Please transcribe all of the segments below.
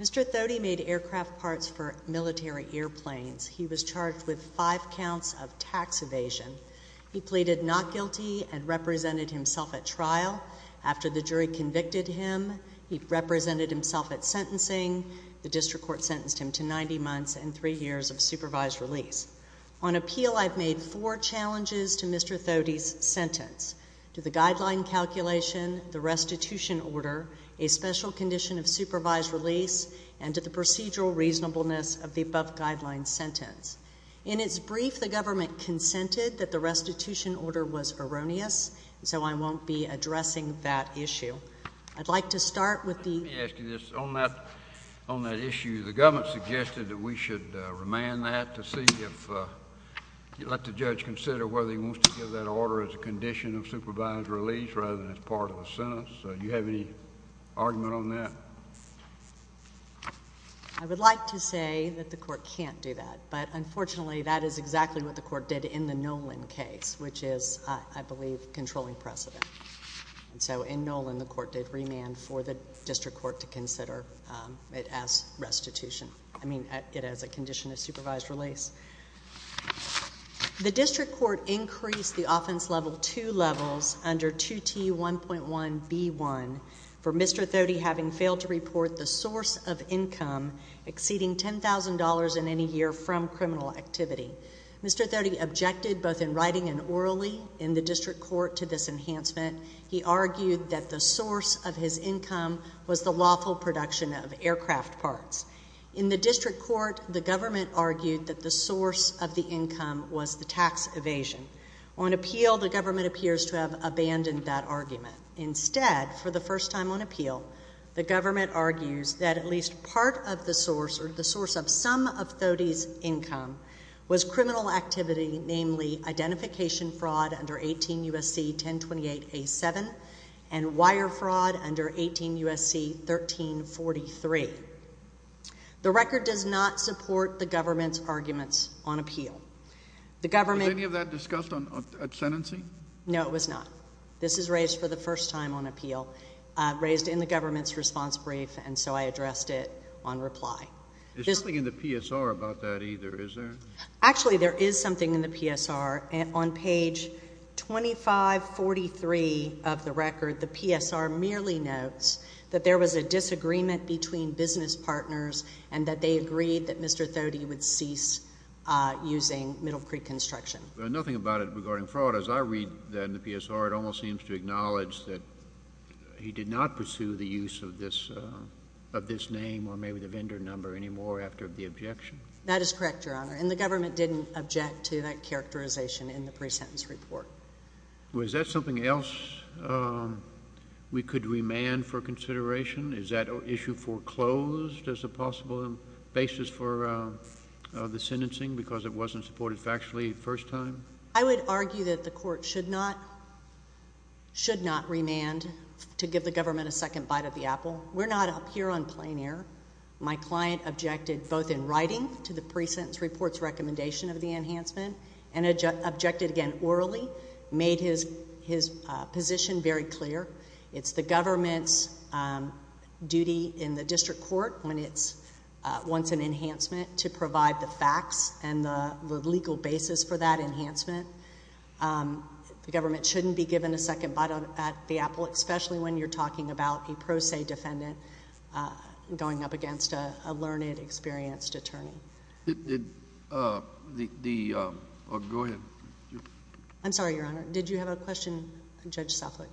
Mr. Thody made aircraft parts for military airplanes. He was charged with five counts of tax evasion. He pleaded not guilty and represented himself at trial. After the jury convicted him, he represented himself at sentencing. The district court sentenced him to 90 months and three years of supervised release. On appeal, I've made four challenges to Mr. Thody's sentence. To the guideline calculation, the restitution order, a special condition of supervised release, and to the procedural reasonableness of the above guideline sentence. In its brief, the government consented that the restitution order was erroneous, so I won't be addressing that issue. I'd like to start with the Let me ask you this. On that issue, the government suggested that we should remand that to see if you'd let the judge consider whether he wants to give that order as a condition of supervised release rather than as part of the sentence. Do you have any argument on that? I would like to say that the court can't do that, but unfortunately, that is exactly what the court did in the Nolan case, which is, I believe, controlling precedent. So in Nolan, the court did remand for the district court to consider it as restitution. I mean, it as a condition of supervised release. The district court increased the offense level two levels under 2T1.1B1 for Mr. Thody having failed to report the source of income exceeding $10,000 in any year from criminal activity. Mr. Thody objected, both in writing and orally, in the district court to this enhancement. He argued that the source of his income was the lawful production of aircraft parts. In the district court, the government argued that the source of the income was the tax evasion. On appeal, the government appears to have abandoned that argument. Instead, for the first time on appeal, the government argues that at least part of the source, or the source of some of Thody's income, was criminal activity, namely identification fraud under 18 U.S.C. 1028A7, and wire fraud under 18 U.S.C. 1343. The record does not support the government's arguments on appeal. The government... Was any of that discussed at sentencing? No, it was not. This is raised for the first time on appeal, raised in the government's response brief, and so I addressed it on reply. There's nothing in the PSR about that either, is there? Actually, there is something in the PSR. On page 2543 of the record, the PSR merely notes that there was a disagreement between business partners and that they agreed that Mr. Thody would cease using Middle Creek Construction. There's nothing about it regarding fraud. As I read that in the PSR, it almost seems to acknowledge that he did not pursue the use of this name or maybe the vendor number anymore after the objection? That is correct, Your Honor, and the government didn't object to that characterization in the pre-sentence report. Was that something else we could remand for consideration? Is that issue foreclosed as a possible basis for the sentencing because it wasn't supported factually the first time? I would argue that the court should not remand to give the government a second bite of the apple, especially when you're talking about a pro se defendant going up against a learned, experienced attorney. Go ahead. I'm sorry, Your Honor. Did you have a question, Judge Suffolk?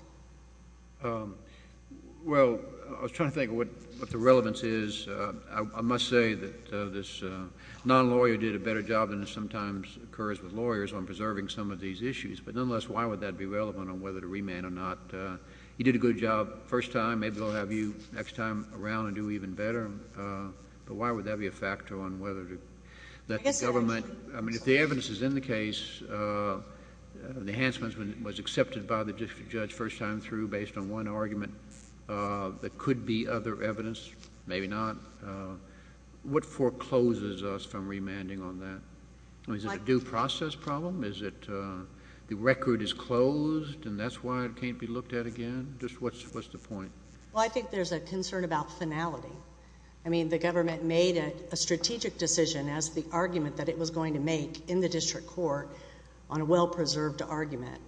Well, I was trying to think of what the relevance is. I must say that this non-lawyer did a better job than sometimes occurs with lawyers on preserving some of these issues, but nonetheless, why would that be relevant on whether to remand or not? He did a good job first time. Maybe he'll have you next time around and do even better, but why would that be a factor on whether to... I guess...... that the government... I mean, if the evidence is in the case, the enhancement was accepted by the judge first time through based on one argument, there could be other evidence, maybe not. What forecloses us from remanding on that? Is it a due process problem? Is it the record is closed and that's why it can't be looked at again? Just what's the point? Well, I think there's a concern about finality. I mean, the government made a strategic decision as the argument that it was going to make in the district court on a well-preserved argument.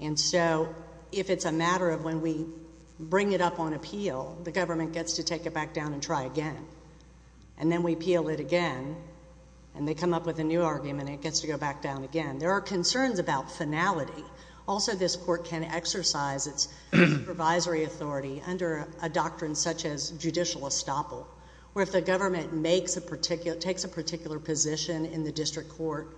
And so, if it's a matter of when we bring it up on appeal, the government gets to take it back down and try again. And then we appeal it again, and they come up with a new argument and it gets to go back down again. There are concerns about finality. Also, this court can exercise its supervisory authority under a doctrine such as judicial estoppel, where if the government makes a particular... takes a particular position in the district court,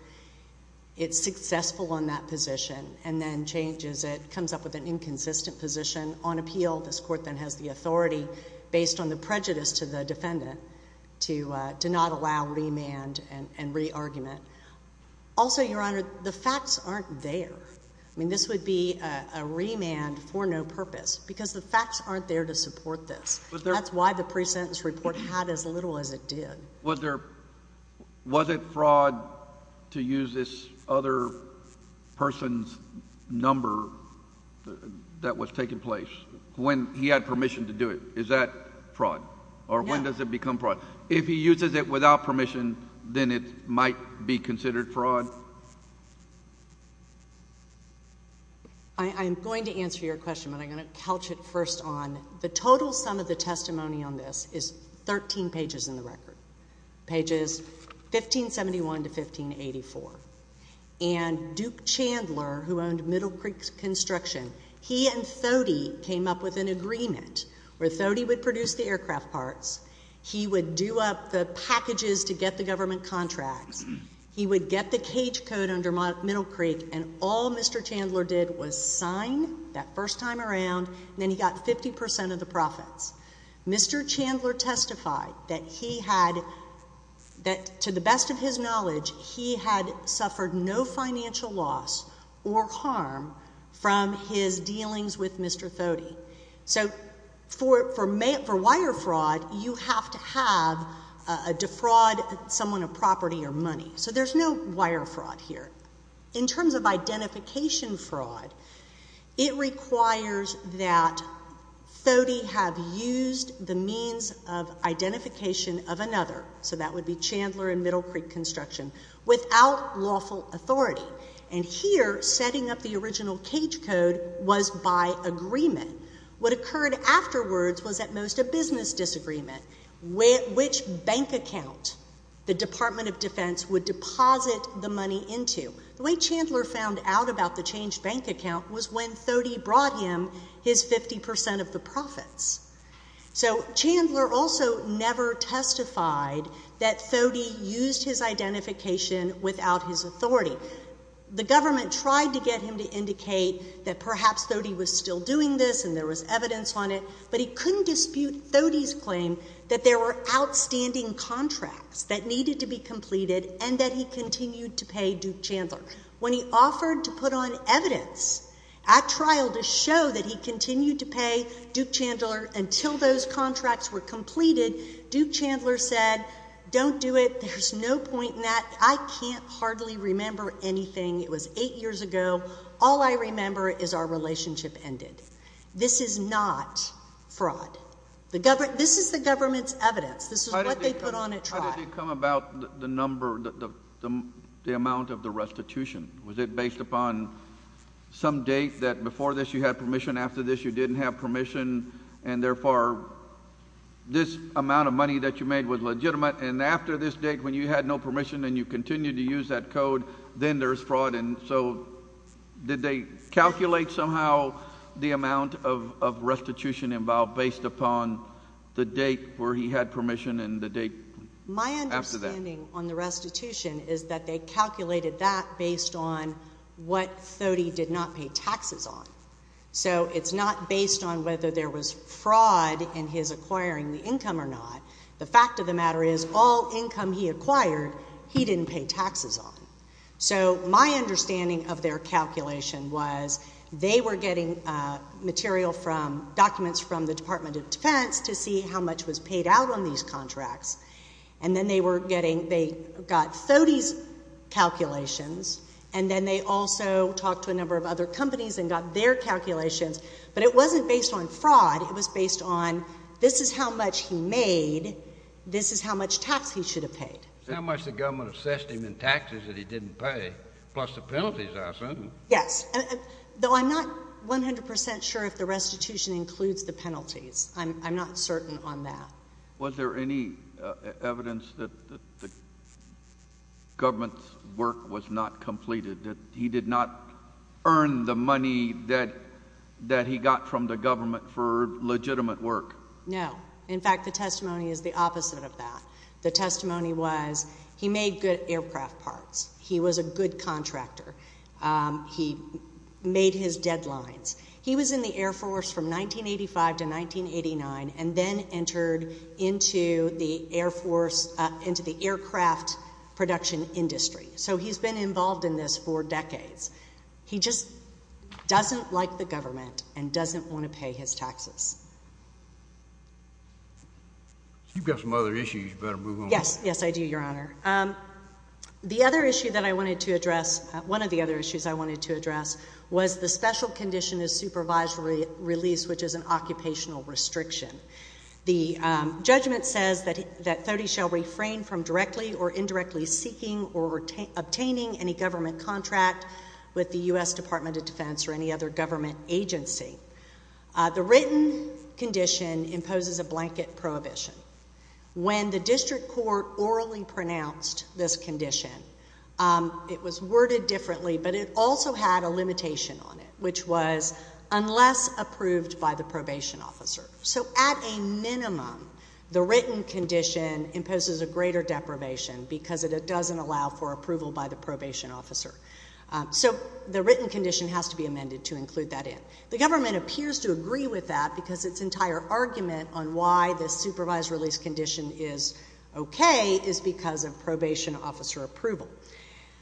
it's successful on that position and then changes it, comes up with an inconsistent position on appeal. This court then has the authority based on the prejudice to the defendant to not allow remand and re-argument. Also, Your Honor, the facts aren't there. I mean, this would be a remand for no purpose, because the facts aren't there to support this. That's why the pre-sentence report had as little as it did. Was it fraud to use this other person's number that was taking place when he had permission to do it? Is that fraud? No. Or when does it become fraud? If he uses it without permission, then it might be considered fraud? I'm going to answer your question, but I'm going to couch it first on the total sum of the testimony on this is 13 pages in the record, pages 1571 to 1584. And Duke Chandler, who owned Middle Creek Construction, he and Thode came up with an agreement where Thode would produce the aircraft parts, he would do up the packages to get the government contracts, he would get the cage code under Middle Creek, and all Mr. Chandler did was sign that first time around, and then he got 50 percent of the profits. Mr. Chandler testified that he had, to the best of his knowledge, he had suffered no financial loss or harm from his you have to have to defraud someone of property or money. So there's no wire fraud here. In terms of identification fraud, it requires that Thode have used the means of identification of another, so that would be Chandler and Middle Creek Construction, without lawful authority. And here, setting up the original cage code was by agreement. What occurred afterwards was at most a business disagreement, which bank account the Department of Defense would deposit the money into. The way Chandler found out about the changed bank account was when Thode brought him his 50 percent of the profits. So Chandler also never testified that Thode used his identification without his authority. The government tried to get him to indicate that perhaps Thode was still doing this and there was evidence on it, but he couldn't dispute Thode's claim that there were outstanding contracts that needed to be completed and that he continued to pay Duke Chandler. When he offered to put on evidence at trial to show that he continued to pay Duke Chandler until those contracts were completed, Duke Chandler said, don't do it. There's no point in that. I can't hardly remember anything. It was eight years ago. All I remember is our relationship ended. This is not fraud. This is the government's evidence. This is what they put on at trial. How did they come about the number, the amount of the restitution? Was it based upon some date that before this you had permission, after this you didn't have permission, and therefore this amount of money that you made was legitimate, and after this date when you had no permission and you continued to use that code, then there's fraud. And so did they calculate somehow the amount of restitution involved based upon the date where he had permission and the date after that? My understanding on the restitution is that they calculated that based on what Thode did not pay taxes on. So it's not based on whether there was fraud in his acquiring the income or not. The fact of the matter is all income he acquired, he didn't pay taxes on. So my understanding of their calculation was they were getting material from, documents from the Department of Defense to see how much was paid out on these contracts, and then they were getting, they got Thode's calculations, and then they also talked to a number of other companies and got their calculations, but it wasn't based on fraud. It was based on this is how much he made, this is how much tax he should have paid. How much the government assessed him in taxes that he didn't pay, plus the penalties I assume. Yes. Though I'm not 100 percent sure if the restitution includes the penalties. I'm not certain on that. Was there any evidence that the government's work was not completed, that he did not earn the money that he got from the government for legitimate work? No. In fact, the testimony is the opposite of that. The testimony was he made good aircraft parts. He was a good contractor. He made his deadlines. He was in the Air Force from 1985 to 1989 and then entered into the Air Force, into the aircraft production industry. So he's been involved in this for decades. He just doesn't like the government and doesn't want to pay his taxes. You've got some other issues. You better move on. Yes. Yes, I do, Your Honor. The other issue that I wanted to address, one of the other issues I wanted to address was the special condition of supervisory release, which is an occupational restriction. The judgment says that Thody shall refrain from directly or indirectly seeking or obtaining any government contract with the U.S. Department of Defense or any other government agency. The written condition imposes a blanket prohibition. When the district court orally pronounced this condition, it was worded differently, but it also had a limitation on it, which was unless approved by the probation officer. So at a minimum, the written condition imposes a greater deprivation because it doesn't allow for approval by the probation officer. So the written condition has to be amended to include that in. The government appears to agree with that because its entire argument on why this supervised release condition is okay is because of probation officer approval.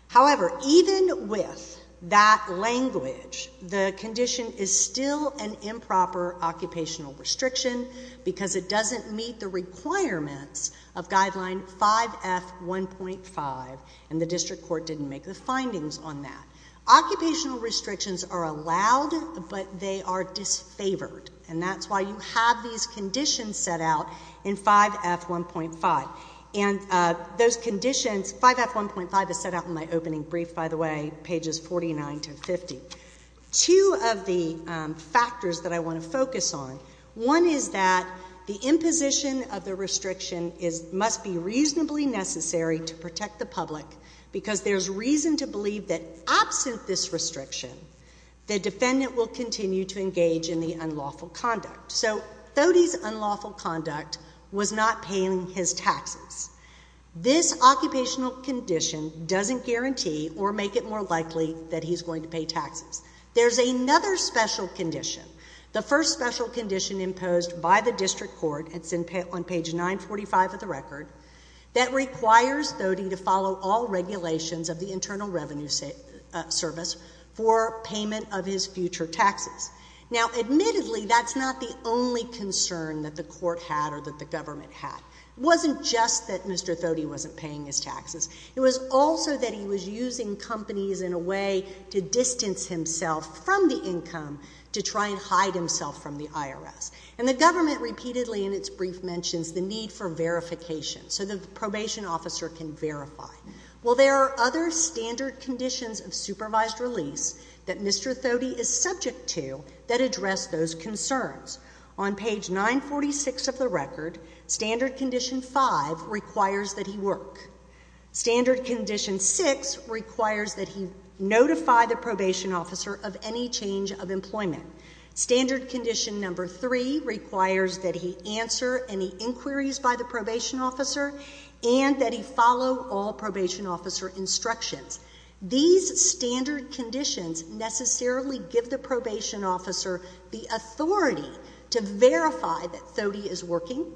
However, even with that language, the condition is still an improper occupational restriction because it doesn't meet the requirements of Guideline 5F1.5, and the district court didn't make the findings on that. Occupational restrictions are allowed, but they are disfavored, and that's why you have these conditions set out in 5F1.5. And those conditions, 5F1.5 is set out in my opening brief, by the way, pages 49 to 50. Two of the factors that I mentioned is that the imposition of the restriction must be reasonably necessary to protect the public because there's reason to believe that absent this restriction, the defendant will continue to engage in the unlawful conduct. So Thody's unlawful conduct was not paying his taxes. This occupational condition doesn't guarantee or make it more likely that he's district court, it's on page 945 of the record, that requires Thody to follow all regulations of the Internal Revenue Service for payment of his future taxes. Now, admittedly, that's not the only concern that the court had or that the government had. It wasn't just that Mr. Thody wasn't paying his taxes. It was also that he was using companies in a way to distance himself from the income to try and hide himself from the IRS. And the government repeatedly in its brief mentions the need for verification so the probation officer can verify. Well, there are other standard conditions of supervised release that Mr. Thody is subject to that address those concerns. On page 946 of the record, standard condition five requires that he work. Standard condition six requires that he notify the probation officer of any change of employment. Standard condition number three requires that he answer any inquiries by the probation officer and that he follow all probation officer instructions. These standard conditions necessarily give the probation officer the authority to verify that Thody is working,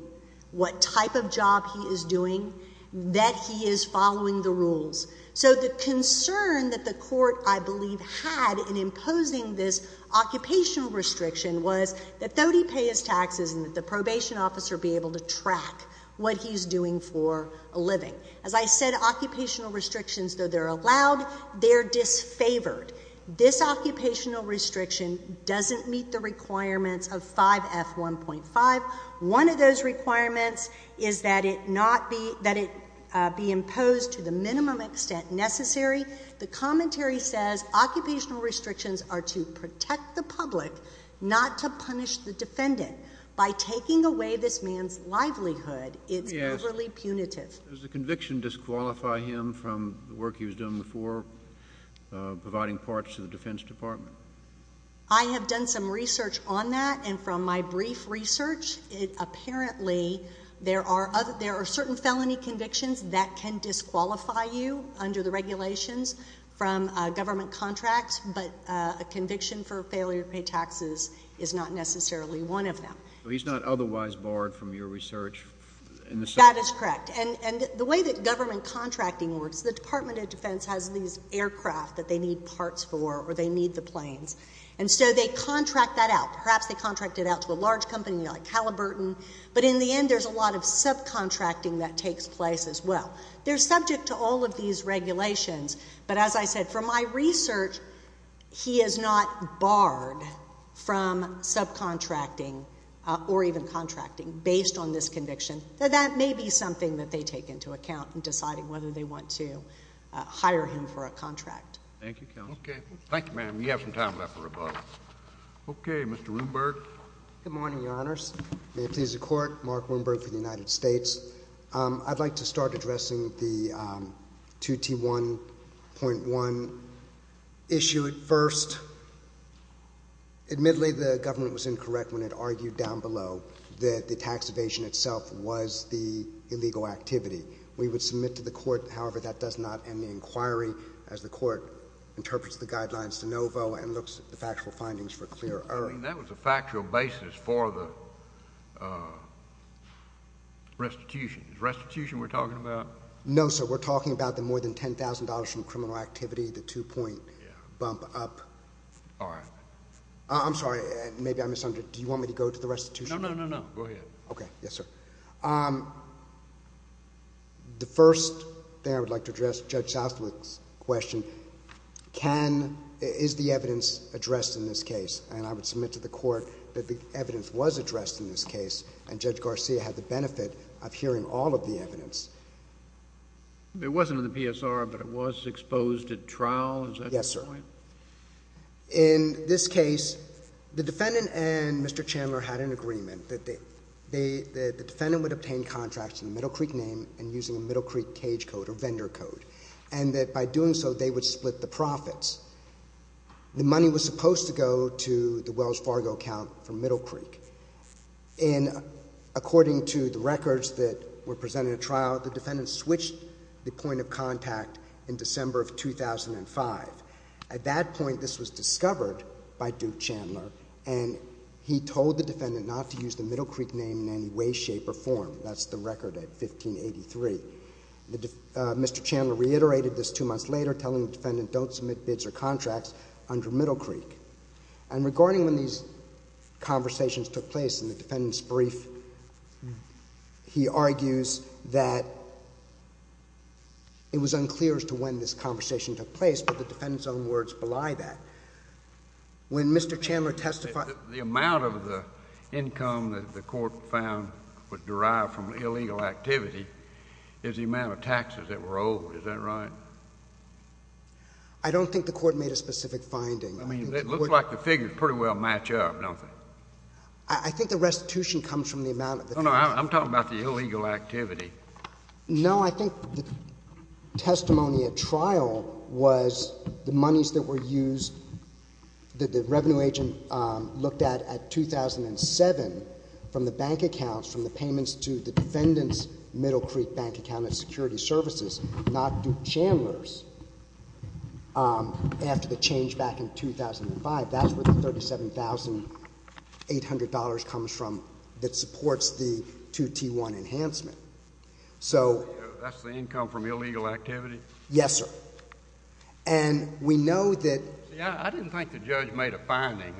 what type of job he is doing, that he is following the rules. So the concern that the court, I believe, had in imposing this occupational restriction was that Thody pay his taxes and that the probation officer be able to track what he's doing for a living. As I said, occupational restrictions, though they're allowed, they're requirements is that it not be, that it be imposed to the minimum extent necessary. The commentary says occupational restrictions are to protect the public, not to punish the defendant. By taking away this man's livelihood, it's overly punitive. Does the conviction disqualify him from the work he was doing before providing parts to my brief research? Apparently, there are certain felony convictions that can disqualify you under the regulations from government contracts, but a conviction for failure to pay taxes is not necessarily one of them. He's not otherwise barred from your research? That is correct. And the way that government contracting works, the Department of Defense has these aircraft that they need parts for or they need the planes. And so they contract that out. Perhaps they contract it out to a large company like Halliburton. But in the end, there's a lot of subcontracting that takes place as well. They're subject to all of these regulations. But as I said, from my research, he is not barred from subcontracting or even contracting based on this conviction. That may be something that they take into account in deciding whether they want to hire him for a contract. Thank you, counsel. Okay. Thank you, ma'am. We have some time left for rebuttal. Okay. Mr. Rumberg. Good morning, Your Honors. May it please the Court, Mark Rumberg for the United States. I'd like to start addressing the 2T1.1 issue at first. Admittedly, the government was incorrect when it argued down below that the tax evasion itself was the illegal activity. We would submit to the Court, however, that does not end the inquiry as the Court interprets the That was a factual basis for the restitution. Is restitution we're talking about? No, sir. We're talking about the more than $10,000 from criminal activity, the two-point bump up. All right. I'm sorry. Maybe I misunderstood. Do you want me to go to the restitution? No, no, no, no. Go ahead. Okay. Yes, sir. The first thing I would like to address Judge Southwick's question, is the evidence addressed in this case? And I would submit to the Court that the evidence was addressed in this case, and Judge Garcia had the benefit of hearing all of the evidence. It wasn't in the PSR, but it was exposed at trial? Is that the point? Yes, sir. In this case, the defendant and Mr. Chandler had an agreement that the defendant would obtain contracts in the Middle Creek name and using a Middle Creek cage code or which split the profits. The money was supposed to go to the Wells Fargo account for Middle Creek. And according to the records that were presented at trial, the defendant switched the point of contact in December of 2005. At that point, this was discovered by Duke Chandler, and he told the defendant not to use the Middle Creek name in any way, shape or form. That's the record at 1583. Mr. Chandler reiterated this two months later, telling the defendant don't submit bids or contracts under Middle Creek. And regarding when these conversations took place in the defendant's brief, he argues that it was unclear as to when this conversation took place, but the defendant's own words belie that. When Mr. Chandler testified— The amount of the income that the Court found was derived from illegal activity is the amount of taxes that were owed. Is that right? I don't think the Court made a specific finding. I mean, it looks like the figures pretty well match up, don't they? I think the restitution comes from the amount of the— No, no, I'm talking about the illegal activity. No, I think the testimony at trial was the monies that were used, that the revenue agent looked at, at 2007 from the bank accounts, from the payments to the defendant's Middle Creek account of security services, not Duke Chandler's. After the change back in 2005, that's where the $37,800 comes from that supports the 2T1 enhancement. That's the income from illegal activity? Yes, sir. And we know that— See, I didn't think the judge made a finding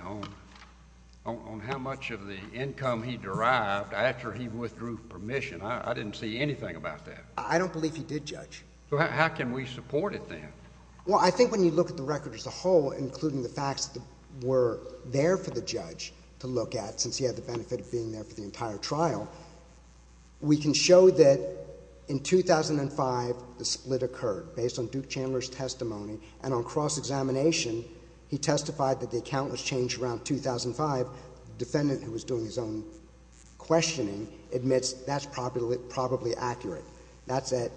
on how much of the income he derived after he withdrew permission. I didn't see anything about that. I don't believe he did, Judge. Well, how can we support it then? Well, I think when you look at the record as a whole, including the facts that were there for the judge to look at, since he had the benefit of being there for the entire trial, we can show that in 2005, the split occurred based on Duke Chandler's testimony. And on cross-examination, he testified that the account was changed around 2005. The defendant, who was doing his own questioning, admits that's probably accurate. That's at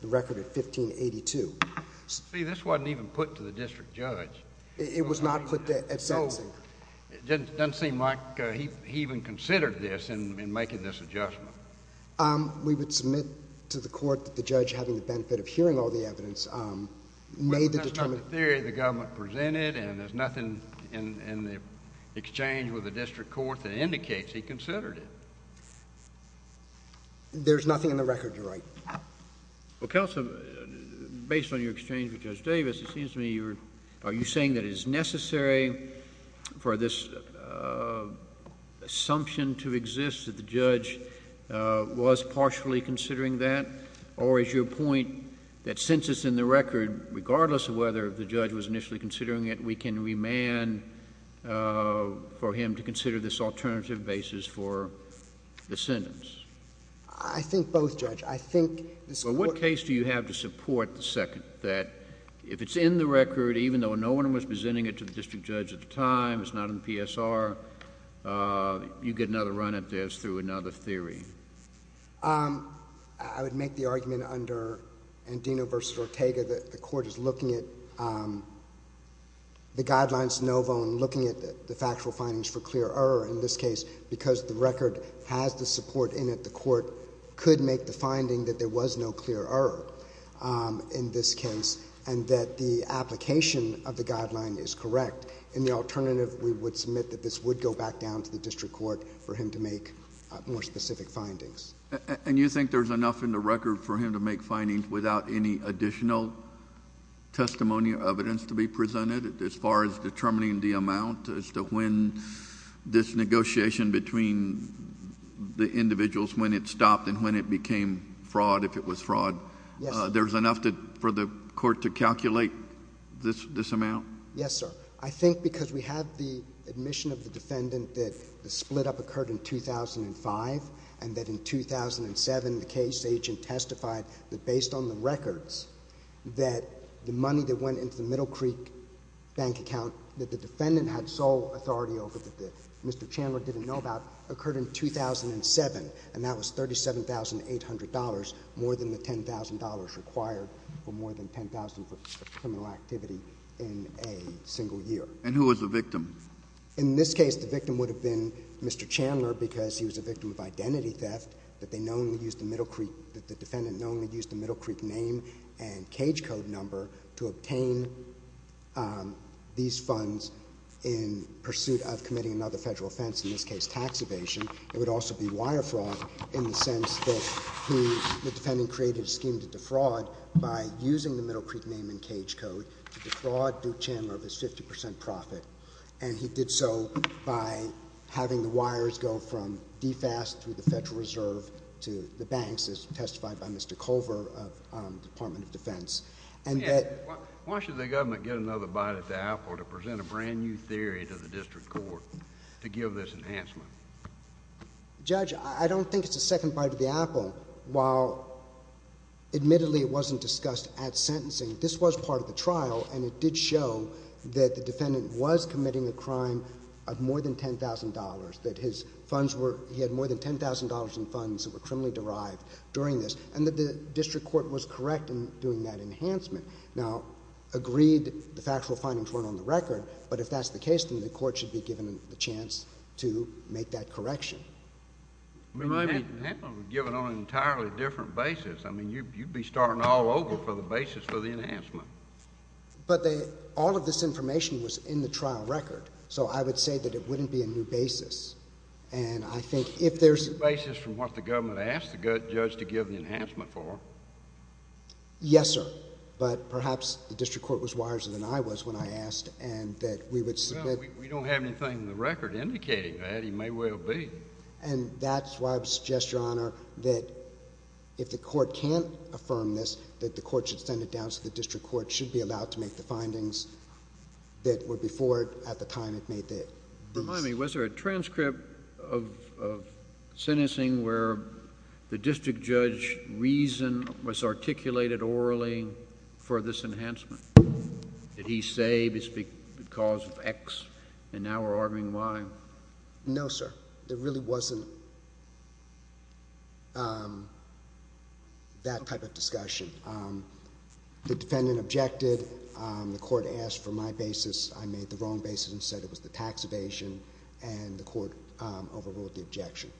the record of 1582. See, this wasn't even put to the district judge. It was not put at sentencing. So it doesn't seem like he even considered this in making this adjustment. We would submit to the court that the judge, having the benefit of hearing all the evidence, made the determined— Well, there's nothing in the record that indicates he considered it. There's nothing in the record you're right. Well, counsel, based on your exchange with Judge Davis, it seems to me you're—are you saying that it is necessary for this assumption to exist that the judge was partially considering that? Or is your point that since it's in the record, regardless of whether the judge was initially considering it, we can remand for him to consider this alternative basis for the sentence? I think both, Judge. I think this Court— Well, what case do you have to support the second, that if it's in the record, even though no one was presenting it to the district judge at the time, it's not in the PSR, you get another run at this through another theory? I would make the argument under Andino v. Ortega that the Court is looking at the Guidelines Novo and looking at the factual findings for clear error in this case, because the record has the support in it, the Court could make the finding that there was no clear error in this case, and that the application of the Guideline is correct. In the alternative, we would submit that this would go back down to the district court for him to make more specific findings. And you think there's enough in the record for him to make findings without any additional testimony or evidence to be presented as far as determining the amount as to when this negotiation between the individuals, when it stopped and when it became fraud, if it was fraud— Yes, sir. There's enough for the Court to calculate this amount? Yes, sir. I think because we have the admission of the defendant that the split-up occurred in 2005 and that in 2007 the case agent testified that, based on the records, that the money that went into the Middle Creek bank account that the defendant had sole authority over that Mr. Chandler didn't know about occurred in 2007, and that was $37,800, more than the year. And who was the victim? In this case, the victim would have been Mr. Chandler, because he was a victim of identity theft, that the defendant knowingly used the Middle Creek name and cage code number to obtain these funds in pursuit of committing another Federal offense, in this case tax evasion. It would also be wire fraud in the sense that the defendant created a scheme to defraud by using the Middle Creek name and cage code to defraud Duke Chandler of his 50 percent profit, and he did so by having the wires go from DFAS to the Federal Reserve to the banks, as testified by Mr. Culver of the Department of Defense. And that— Why should the government get another bite at the apple to present a brand-new theory to the District Court to give this enhancement? Judge, I don't think it's a second bite of the apple. While admittedly it wasn't discussed at sentencing, this was part of the trial, and it did show that the defendant was committing a crime of more than $10,000, that his funds were—he had more than $10,000 in funds that were criminally derived during this, and that the District Court was correct in doing that enhancement. Now, agreed, the factual findings weren't on the record, but if that's the case, then the court should be given a chance to make that correction. I mean, that one would be given on an entirely different basis. I mean, you'd be starting all over for the basis for the enhancement. But all of this information was in the trial record, so I would say that it wouldn't be a new basis, and I think if there's— It's a new basis from what the government asked the judge to give the enhancement for. Yes, sir. But perhaps the District Court was wiser than I was when I asked, and that we would submit— No, we don't have anything in the record indicating that. It may well be. And that's why I would suggest, Your Honor, that if the court can't affirm this, that the court should send it down so the District Court should be allowed to make the findings that were before, at the time it made these. Remind me, was there a transcript of sentencing where the district judge's reason was articulated orally for this enhancement? Did he say it's because of X, and now we're arguing why? No, sir. There really wasn't that type of discussion. The defendant objected. The court asked for my basis. I made the wrong basis and said it was the tax evasion, and the court overruled the objection.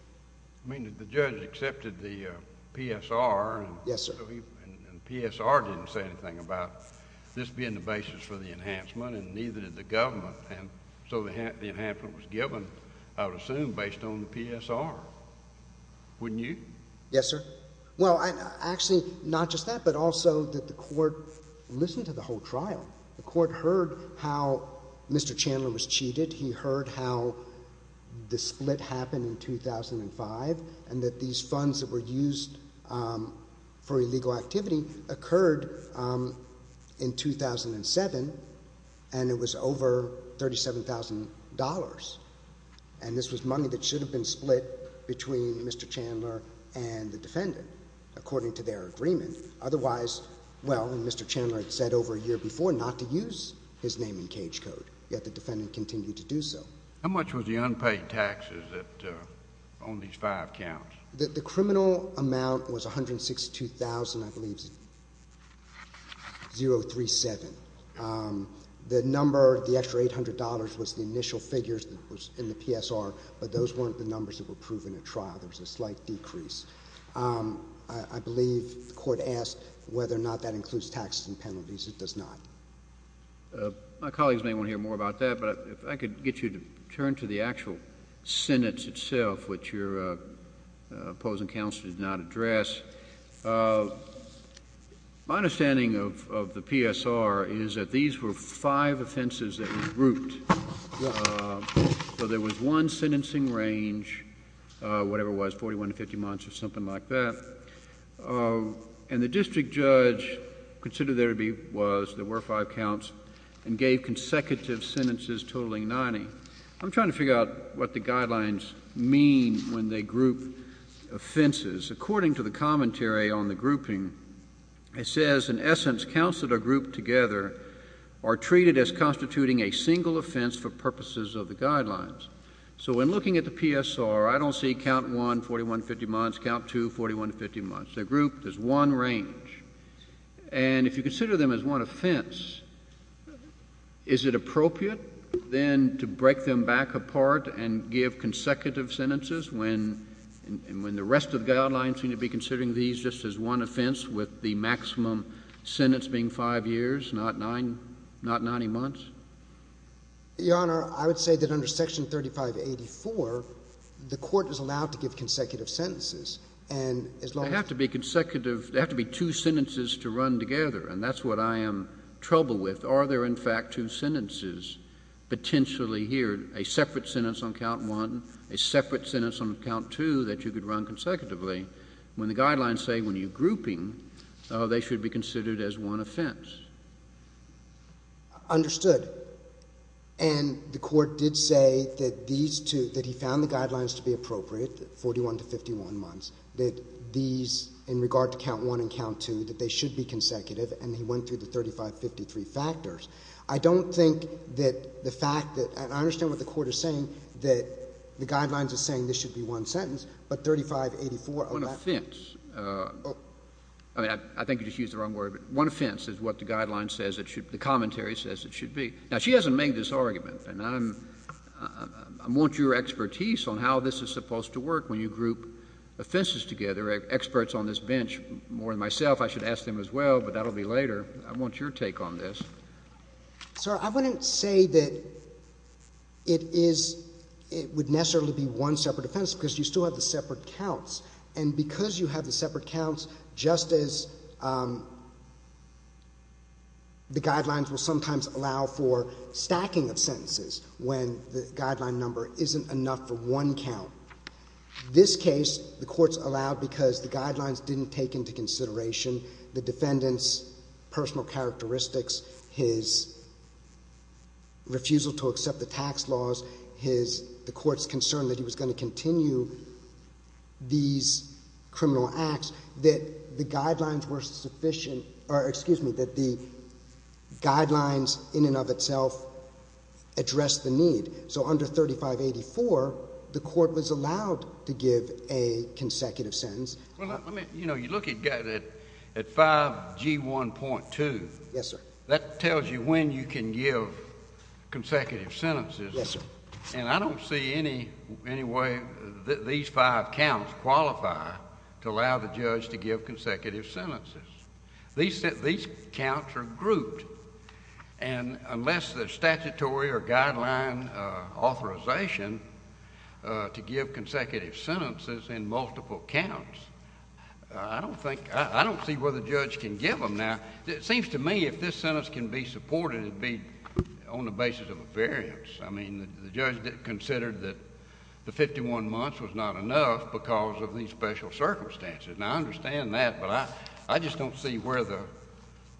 I mean, did the judge accept the PSR? Yes, sir. And PSR didn't say anything about this being the basis for the enhancement, and neither did the government, and so the enhancement was given, I would assume, based on the PSR. Wouldn't you? Yes, sir. Well, actually, not just that, but also that the court listened to the whole trial. The court heard how Mr. Chandler was cheated. He heard how the split happened in 2005 and that these funds that were used for illegal activity occurred in 2007, and it was over $37,000, and this was money that should have been split between Mr. Chandler and the defendant, according to their agreement. Otherwise, well, Mr. Chandler had said over a year before not to use his name in cage How much was the unpaid taxes on these five counts? The criminal amount was $162,000, I believe it's 037. The number, the extra $800 was the initial figures that was in the PSR, but those weren't the numbers that were proven at trial. There was a slight decrease. I believe the court asked whether or not that includes taxes and penalties. It does not. My colleagues may want to hear more about that, but if I could get you to turn to the actual sentence itself, which your opposing counsel did not address. My understanding of the PSR is that these were five offenses that were grouped, so there was one sentencing range, whatever it was, 41 to 50 months or something like that, and the district judge considered there were five counts and gave consecutive sentences totaling 90. I'm trying to figure out what the guidelines mean when they group offenses. According to the commentary on the grouping, it says, in essence, counts that are grouped together are treated as constituting a single offense for purposes of the guidelines. So when looking at the PSR, I don't see count 1, 41 to 50 months, count 2, 41 to 50 months. They're grouped as one range, and if you consider them as one offense, is it appropriate then to break them back apart and give consecutive sentences when the rest of the guidelines seem to be considering these just as one offense with the maximum sentence being five years, not 90 months? Your Honor, I would say that under Section 3584, the court is allowed to give consecutive sentences, and as long as— They have to be consecutive. They have to be two sentences to run together, and that's what I am trouble with. Are there, in fact, two sentences potentially here, a separate sentence on count 1, a separate sentence on count 2, that you could run consecutively when the guidelines say when you're grouping they should be considered as one offense? Understood. And the court did say that these two, that he found the guidelines to be appropriate, 41 to 51 months, that these, in regard to count 1 and count 2, that they should be consecutive, and he went through the 3553 factors. I don't think that the fact that — and I understand what the Court is saying, that the guidelines are saying this should be one sentence, but 3584— One offense. I mean, I think you just used the wrong word, but one offense is what the guideline says it should — the commentary says it should be. Now, she hasn't made this argument, and I'm — I want your expertise on how this is supposed to work when you group offenses together. Experts on this bench, more than myself, I should ask them as well, but that will be later. I want your take on this. Sir, I wouldn't say that it is — it would necessarily be one separate offense because you still have the separate counts, and because you have the separate counts, just as the guidelines will sometimes allow for stacking of sentences when the guideline number isn't enough for one count. This case, the Court's allowed because the guidelines didn't take into consideration the defendant's personal characteristics, his refusal to accept the tax laws, his — the Court's concern that he was going to continue these criminal acts, that the guidelines were sufficient — or, excuse me, that the guidelines in and of itself addressed the need. So under 3584, the Court was allowed to give a consecutive sentence. Well, let me — you know, you look at 5G1.2. Yes, sir. That tells you when you can give consecutive sentences. Yes, sir. And I don't see any way that these five counts qualify to allow the judge to give consecutive sentences. These counts are grouped, and unless the statutory or guideline authorization to give consecutive sentences in multiple counts, I don't think — I don't see where the judge can give them. Now, it seems to me if this sentence can be supported, it would be on the basis of a variance. I mean, the judge considered that the 51 months was not enough because of these special circumstances. Now, I understand that, but I just don't see where the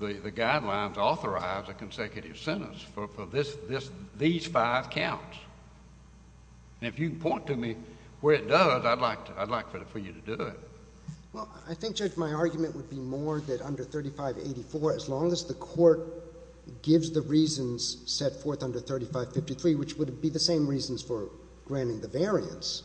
guidelines authorize a consecutive sentence for this — these five counts. And if you can point to me where it does, I'd like for you to do it. Well, I think, Judge, my argument would be more that under 3584, as long as the Court gives the reasons set forth under 3553, which would be the same reasons for granting the variance,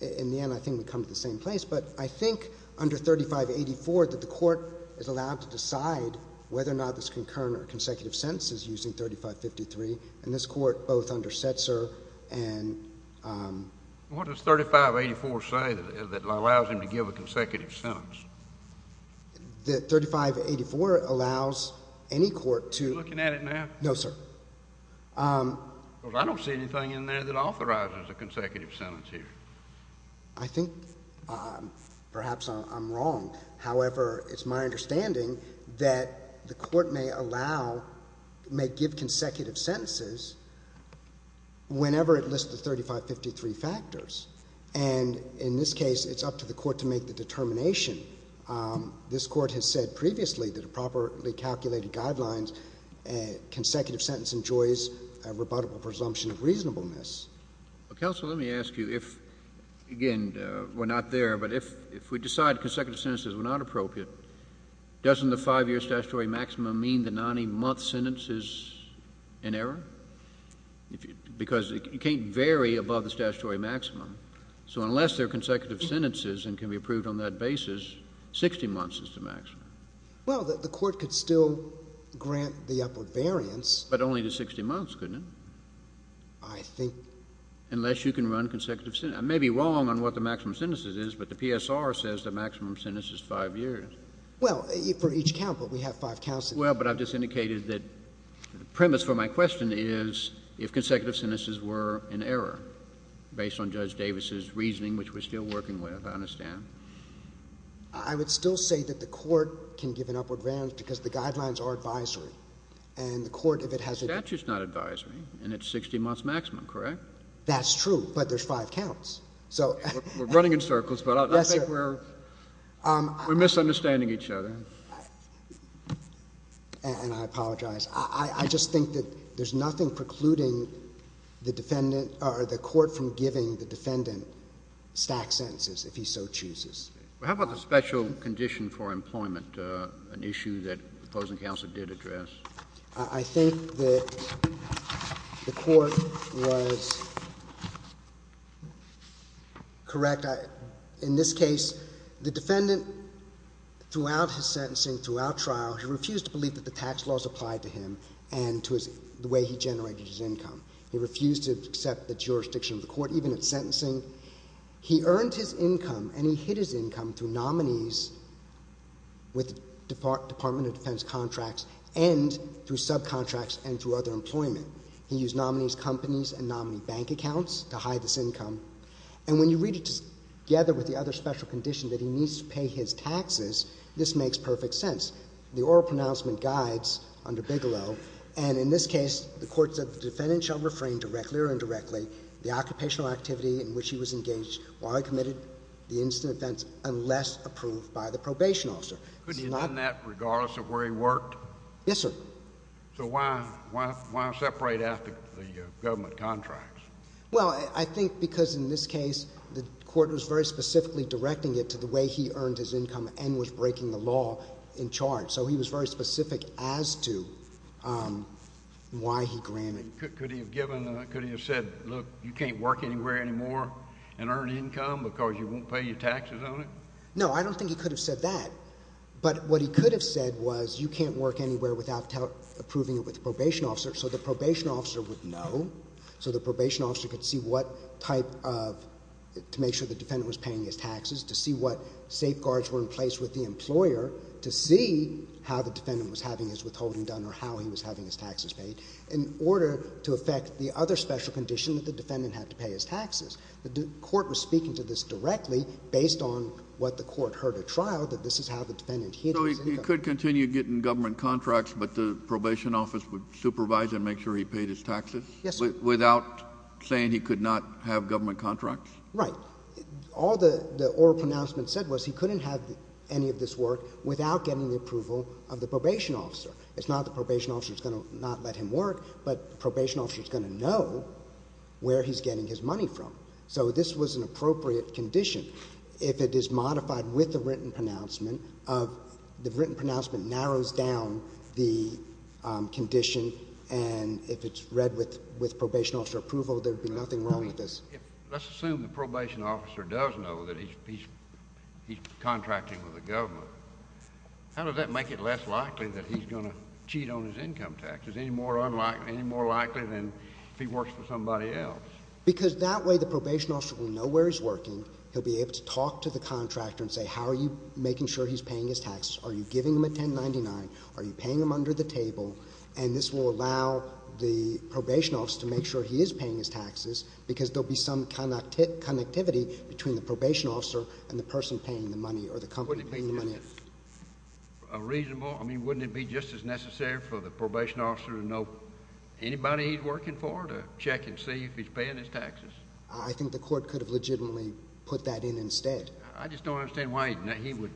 in the end I think we'd come to the same place. But I think under 3584 that the Court is allowed to decide whether or not this concurrent or consecutive sentence is using 3553, and this Court both underset, sir, and — What does 3584 say that allows him to give a consecutive sentence? That 3584 allows any court to — Are you looking at it now? No, sir. Because I don't see anything in there that authorizes a consecutive sentence here. I think perhaps I'm wrong. However, it's my understanding that the Court may allow — may give consecutive sentences whenever it lists the 3553 factors. And in this case, it's up to the Court to make the determination. This Court has said previously that in properly calculated guidelines, a consecutive sentence enjoys a rebuttable presumption of reasonableness. Counsel, let me ask you if — again, we're not there, but if we decide consecutive sentences were not appropriate, doesn't the 5-year statutory maximum mean the 90-month sentence is in error? Because it can't vary above the statutory maximum. So unless they're consecutive sentences and can be approved on that basis, 60 months is the maximum. Well, the Court could still grant the upward variance. But only to 60 months, couldn't it? I think — Unless you can run consecutive — I may be wrong on what the maximum sentence is, but the PSR says the maximum sentence is 5 years. Well, for each count, but we have 5 counts. Well, but I've just indicated that the premise for my question is if consecutive sentences were in error, based on Judge Davis's reasoning, which we're still working with, I understand. I would still say that the Court can give an upward variance because the guidelines are advisory. And the Court, if it has a — The statute's not advisory, and it's 60 months maximum, correct? That's true, but there's 5 counts. So — We're running in circles, but I think we're — Yes, sir. We're misunderstanding each other. And I apologize. I just think that there's nothing precluding the defendant — or the Court from giving the defendant stacked sentences, if he so chooses. Well, how about the special condition for employment, an issue that the opposing counsel did address? I think that the Court was correct. In this case, the defendant, throughout his sentencing, throughout trial, he refused to believe that the tax laws applied to him and to the way he generated his income. He refused to accept the jurisdiction of the Court, even at sentencing. He earned his income, and he hid his income through nominees with Department of State, through subcontracts, and through other employment. He used nominees' companies and nominee bank accounts to hide his income. And when you read it together with the other special condition that he needs to pay his taxes, this makes perfect sense. The oral pronouncement guides under Bigelow. And in this case, the Court said the defendant shall refrain directly or indirectly the occupational activity in which he was engaged while he committed the incident of offense unless approved by the probation officer. Couldn't he have done that regardless of where he worked? Yes, sir. So why separate out the government contracts? Well, I think because, in this case, the Court was very specifically directing it to the way he earned his income and was breaking the law in charge. So he was very specific as to why he granted. Could he have given—could he have said, look, you can't work anywhere anymore and earn income because you won't pay your taxes on it? No, I don't think he could have said that. But what he could have said was you can't work anywhere without approving it with the probation officer. So the probation officer would know. So the probation officer could see what type of—to make sure the defendant was paying his taxes, to see what safeguards were in place with the employer, to see how the defendant was having his withholding done or how he was having his taxes paid in order to affect the other special condition that the defendant had to pay his taxes. The Court was speaking to this directly based on what the Court heard at trial, that this is how the defendant hid his income. So he could continue getting government contracts, but the probation office would supervise and make sure he paid his taxes? Yes, sir. Without saying he could not have government contracts? Right. All the oral pronouncement said was he couldn't have any of this work without getting the approval of the probation officer. It's not the probation officer that's going to not let him work, but the probation officer is going to know where he's getting his money from. So this was an appropriate condition. If it is modified with the written pronouncement, the written pronouncement narrows down the condition, and if it's read with probation officer approval, there would be nothing wrong with this. Let's assume the probation officer does know that he's contracting with the government. How does that make it less likely that he's going to cheat on his income taxes, any more unlikely than if he works for somebody else? Because that way the probation officer will know where he's working. He'll be able to talk to the contractor and say, how are you making sure he's paying his taxes? Are you giving him a 1099? Are you paying him under the table? And this will allow the probation officer to make sure he is paying his taxes because there will be some connectivity between the probation officer and the person paying the money or the company paying the money. Wouldn't it be just as necessary for the probation officer to know anybody he's working for to check and see if he's paying his taxes? I think the court could have legitimately put that in instead. I just don't understand why he would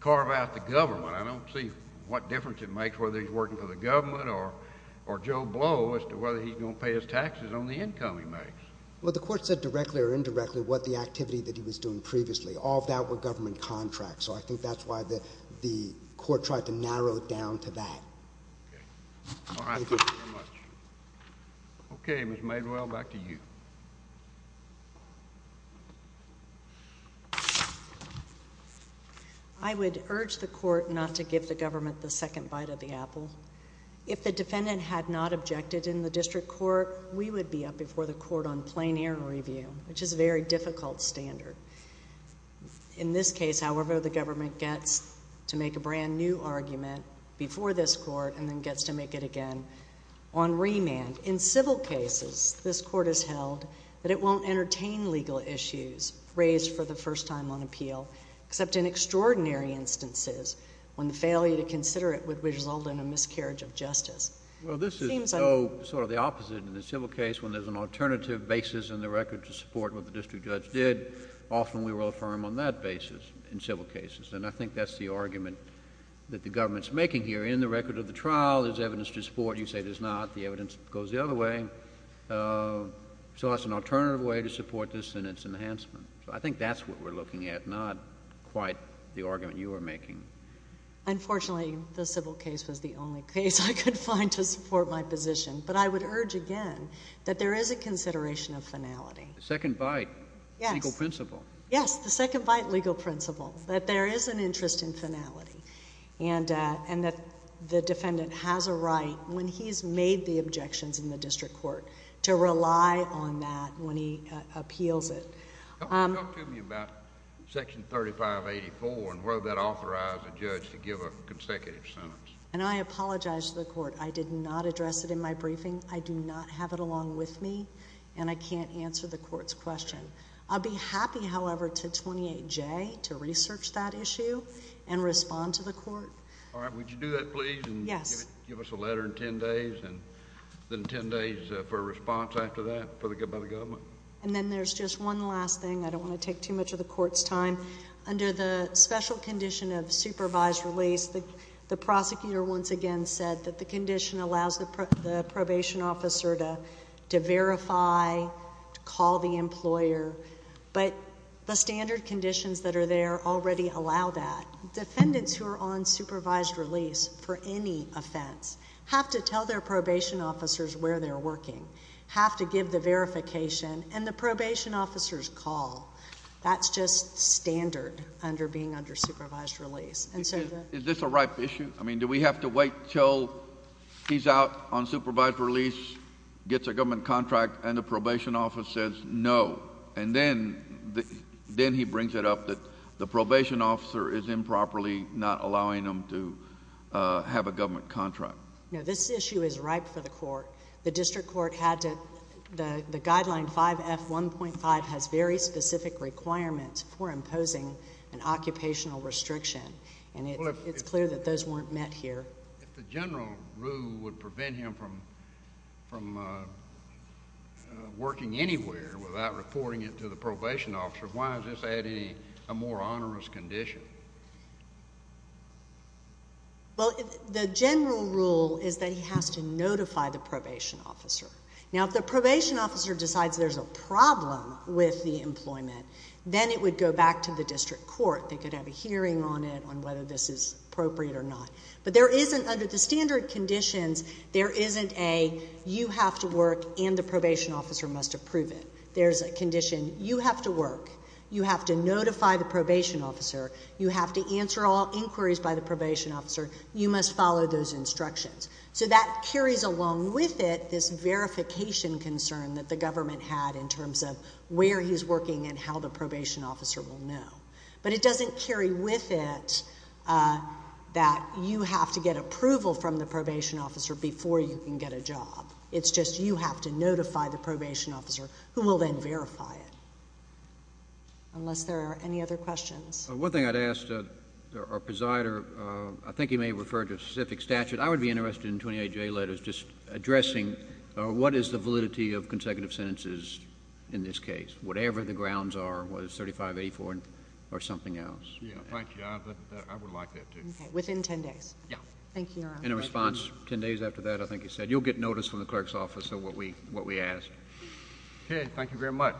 carve out the government. I don't see what difference it makes whether he's working for the government or Joe Blow as to whether he's going to pay his taxes on the income he makes. Well, the court said directly or indirectly what the activity that he was doing previously. All of that were government contracts, so I think that's why the court tried to narrow it down to that. Okay. All right. Thank you very much. Okay, Ms. Madewell, back to you. I would urge the court not to give the government the second bite of the apple. If the defendant had not objected in the district court, we would be up before the court on plein air review, which is a very difficult standard. In this case, however, the government gets to make a brand new argument before this court and then remand. In civil cases, this court has held that it won't entertain legal issues raised for the first time on appeal, except in extraordinary instances when the failure to consider it would result in a miscarriage of justice. Well, this is sort of the opposite in the civil case when there's an alternative basis in the record to support what the district judge did. Often we will affirm on that basis in civil cases, and I think that's the argument that the government's making here. In the record of the trial, there's evidence to support. You say there's not. The evidence goes the other way. So that's an alternative way to support this in its enhancement. So I think that's what we're looking at, not quite the argument you are making. Unfortunately, the civil case was the only case I could find to support my position, but I would urge again that there is a consideration of finality. The second bite. Yes. Legal principle. Yes, the second bite legal principle, that there is an interest in finality and that the defendant has a right when he's made the objections in the district court, to rely on that when he appeals it. Talk to me about section 3584 and whether that authorized a judge to give a consecutive sentence. And I apologize to the court. I did not address it in my briefing. I do not have it along with me, and I can't answer the court's question. I'll be happy, however, to 28J to research that issue and respond to the court. All right. Would you do that, please? Yes. Give us a letter in 10 days, and then 10 days for a response after that by the government. And then there's just one last thing. I don't want to take too much of the court's time. Under the special condition of supervised release, the prosecutor once again said that the condition allows the probation officer to verify, to call the employer, but the standard conditions that are there already allow that. Defendants who are on supervised release for any offense have to tell their probation officers where they're working, have to give the verification, and the probation officers call. That's just standard under being under supervised release. Is this a ripe issue? I mean, do we have to wait until he's out on supervised release, gets a government contract, and the probation officer says no, and then he brings it up that the probation officer is improperly not allowing him to have a government contract. No, this issue is ripe for the court. The district court had to the guideline 5F1.5 has very specific requirements for imposing an occupational restriction, and it's clear that those weren't met here. If the general rule would prevent him from working anywhere without reporting it to the probation officer, why is this a more onerous condition? Well, the general rule is that he has to notify the probation officer. Now, if the probation officer decides there's a problem with the employment, then it would go back to the district court. They could have a hearing on it on whether this is appropriate or not. But there isn't under the standard conditions, there isn't a you have to work and the probation officer must approve it. There's a condition you have to work, you have to notify the probation officer, you have to answer all inquiries by the probation officer, you must follow those instructions. So that carries along with it this verification concern that the government had in terms of where he's working and how the probation officer will know. But it doesn't carry with it that you have to get approval from the probation officer before you can get a job. It's just you have to notify the probation officer who will then verify it, unless there are any other questions. One thing I'd ask our presider, I think he may refer to a specific statute. I would be interested in 28J letters just addressing what is the validity of consecutive sentences in this case, whatever the grounds are, whether it's 35A4 or something else. Yeah, thank you. I would like that too. Okay, within 10 days. Yeah. Thank you, Your Honor. In response, 10 days after that, I think he said, you'll get notice from the clerk's office of what we asked. Okay, thank you very much.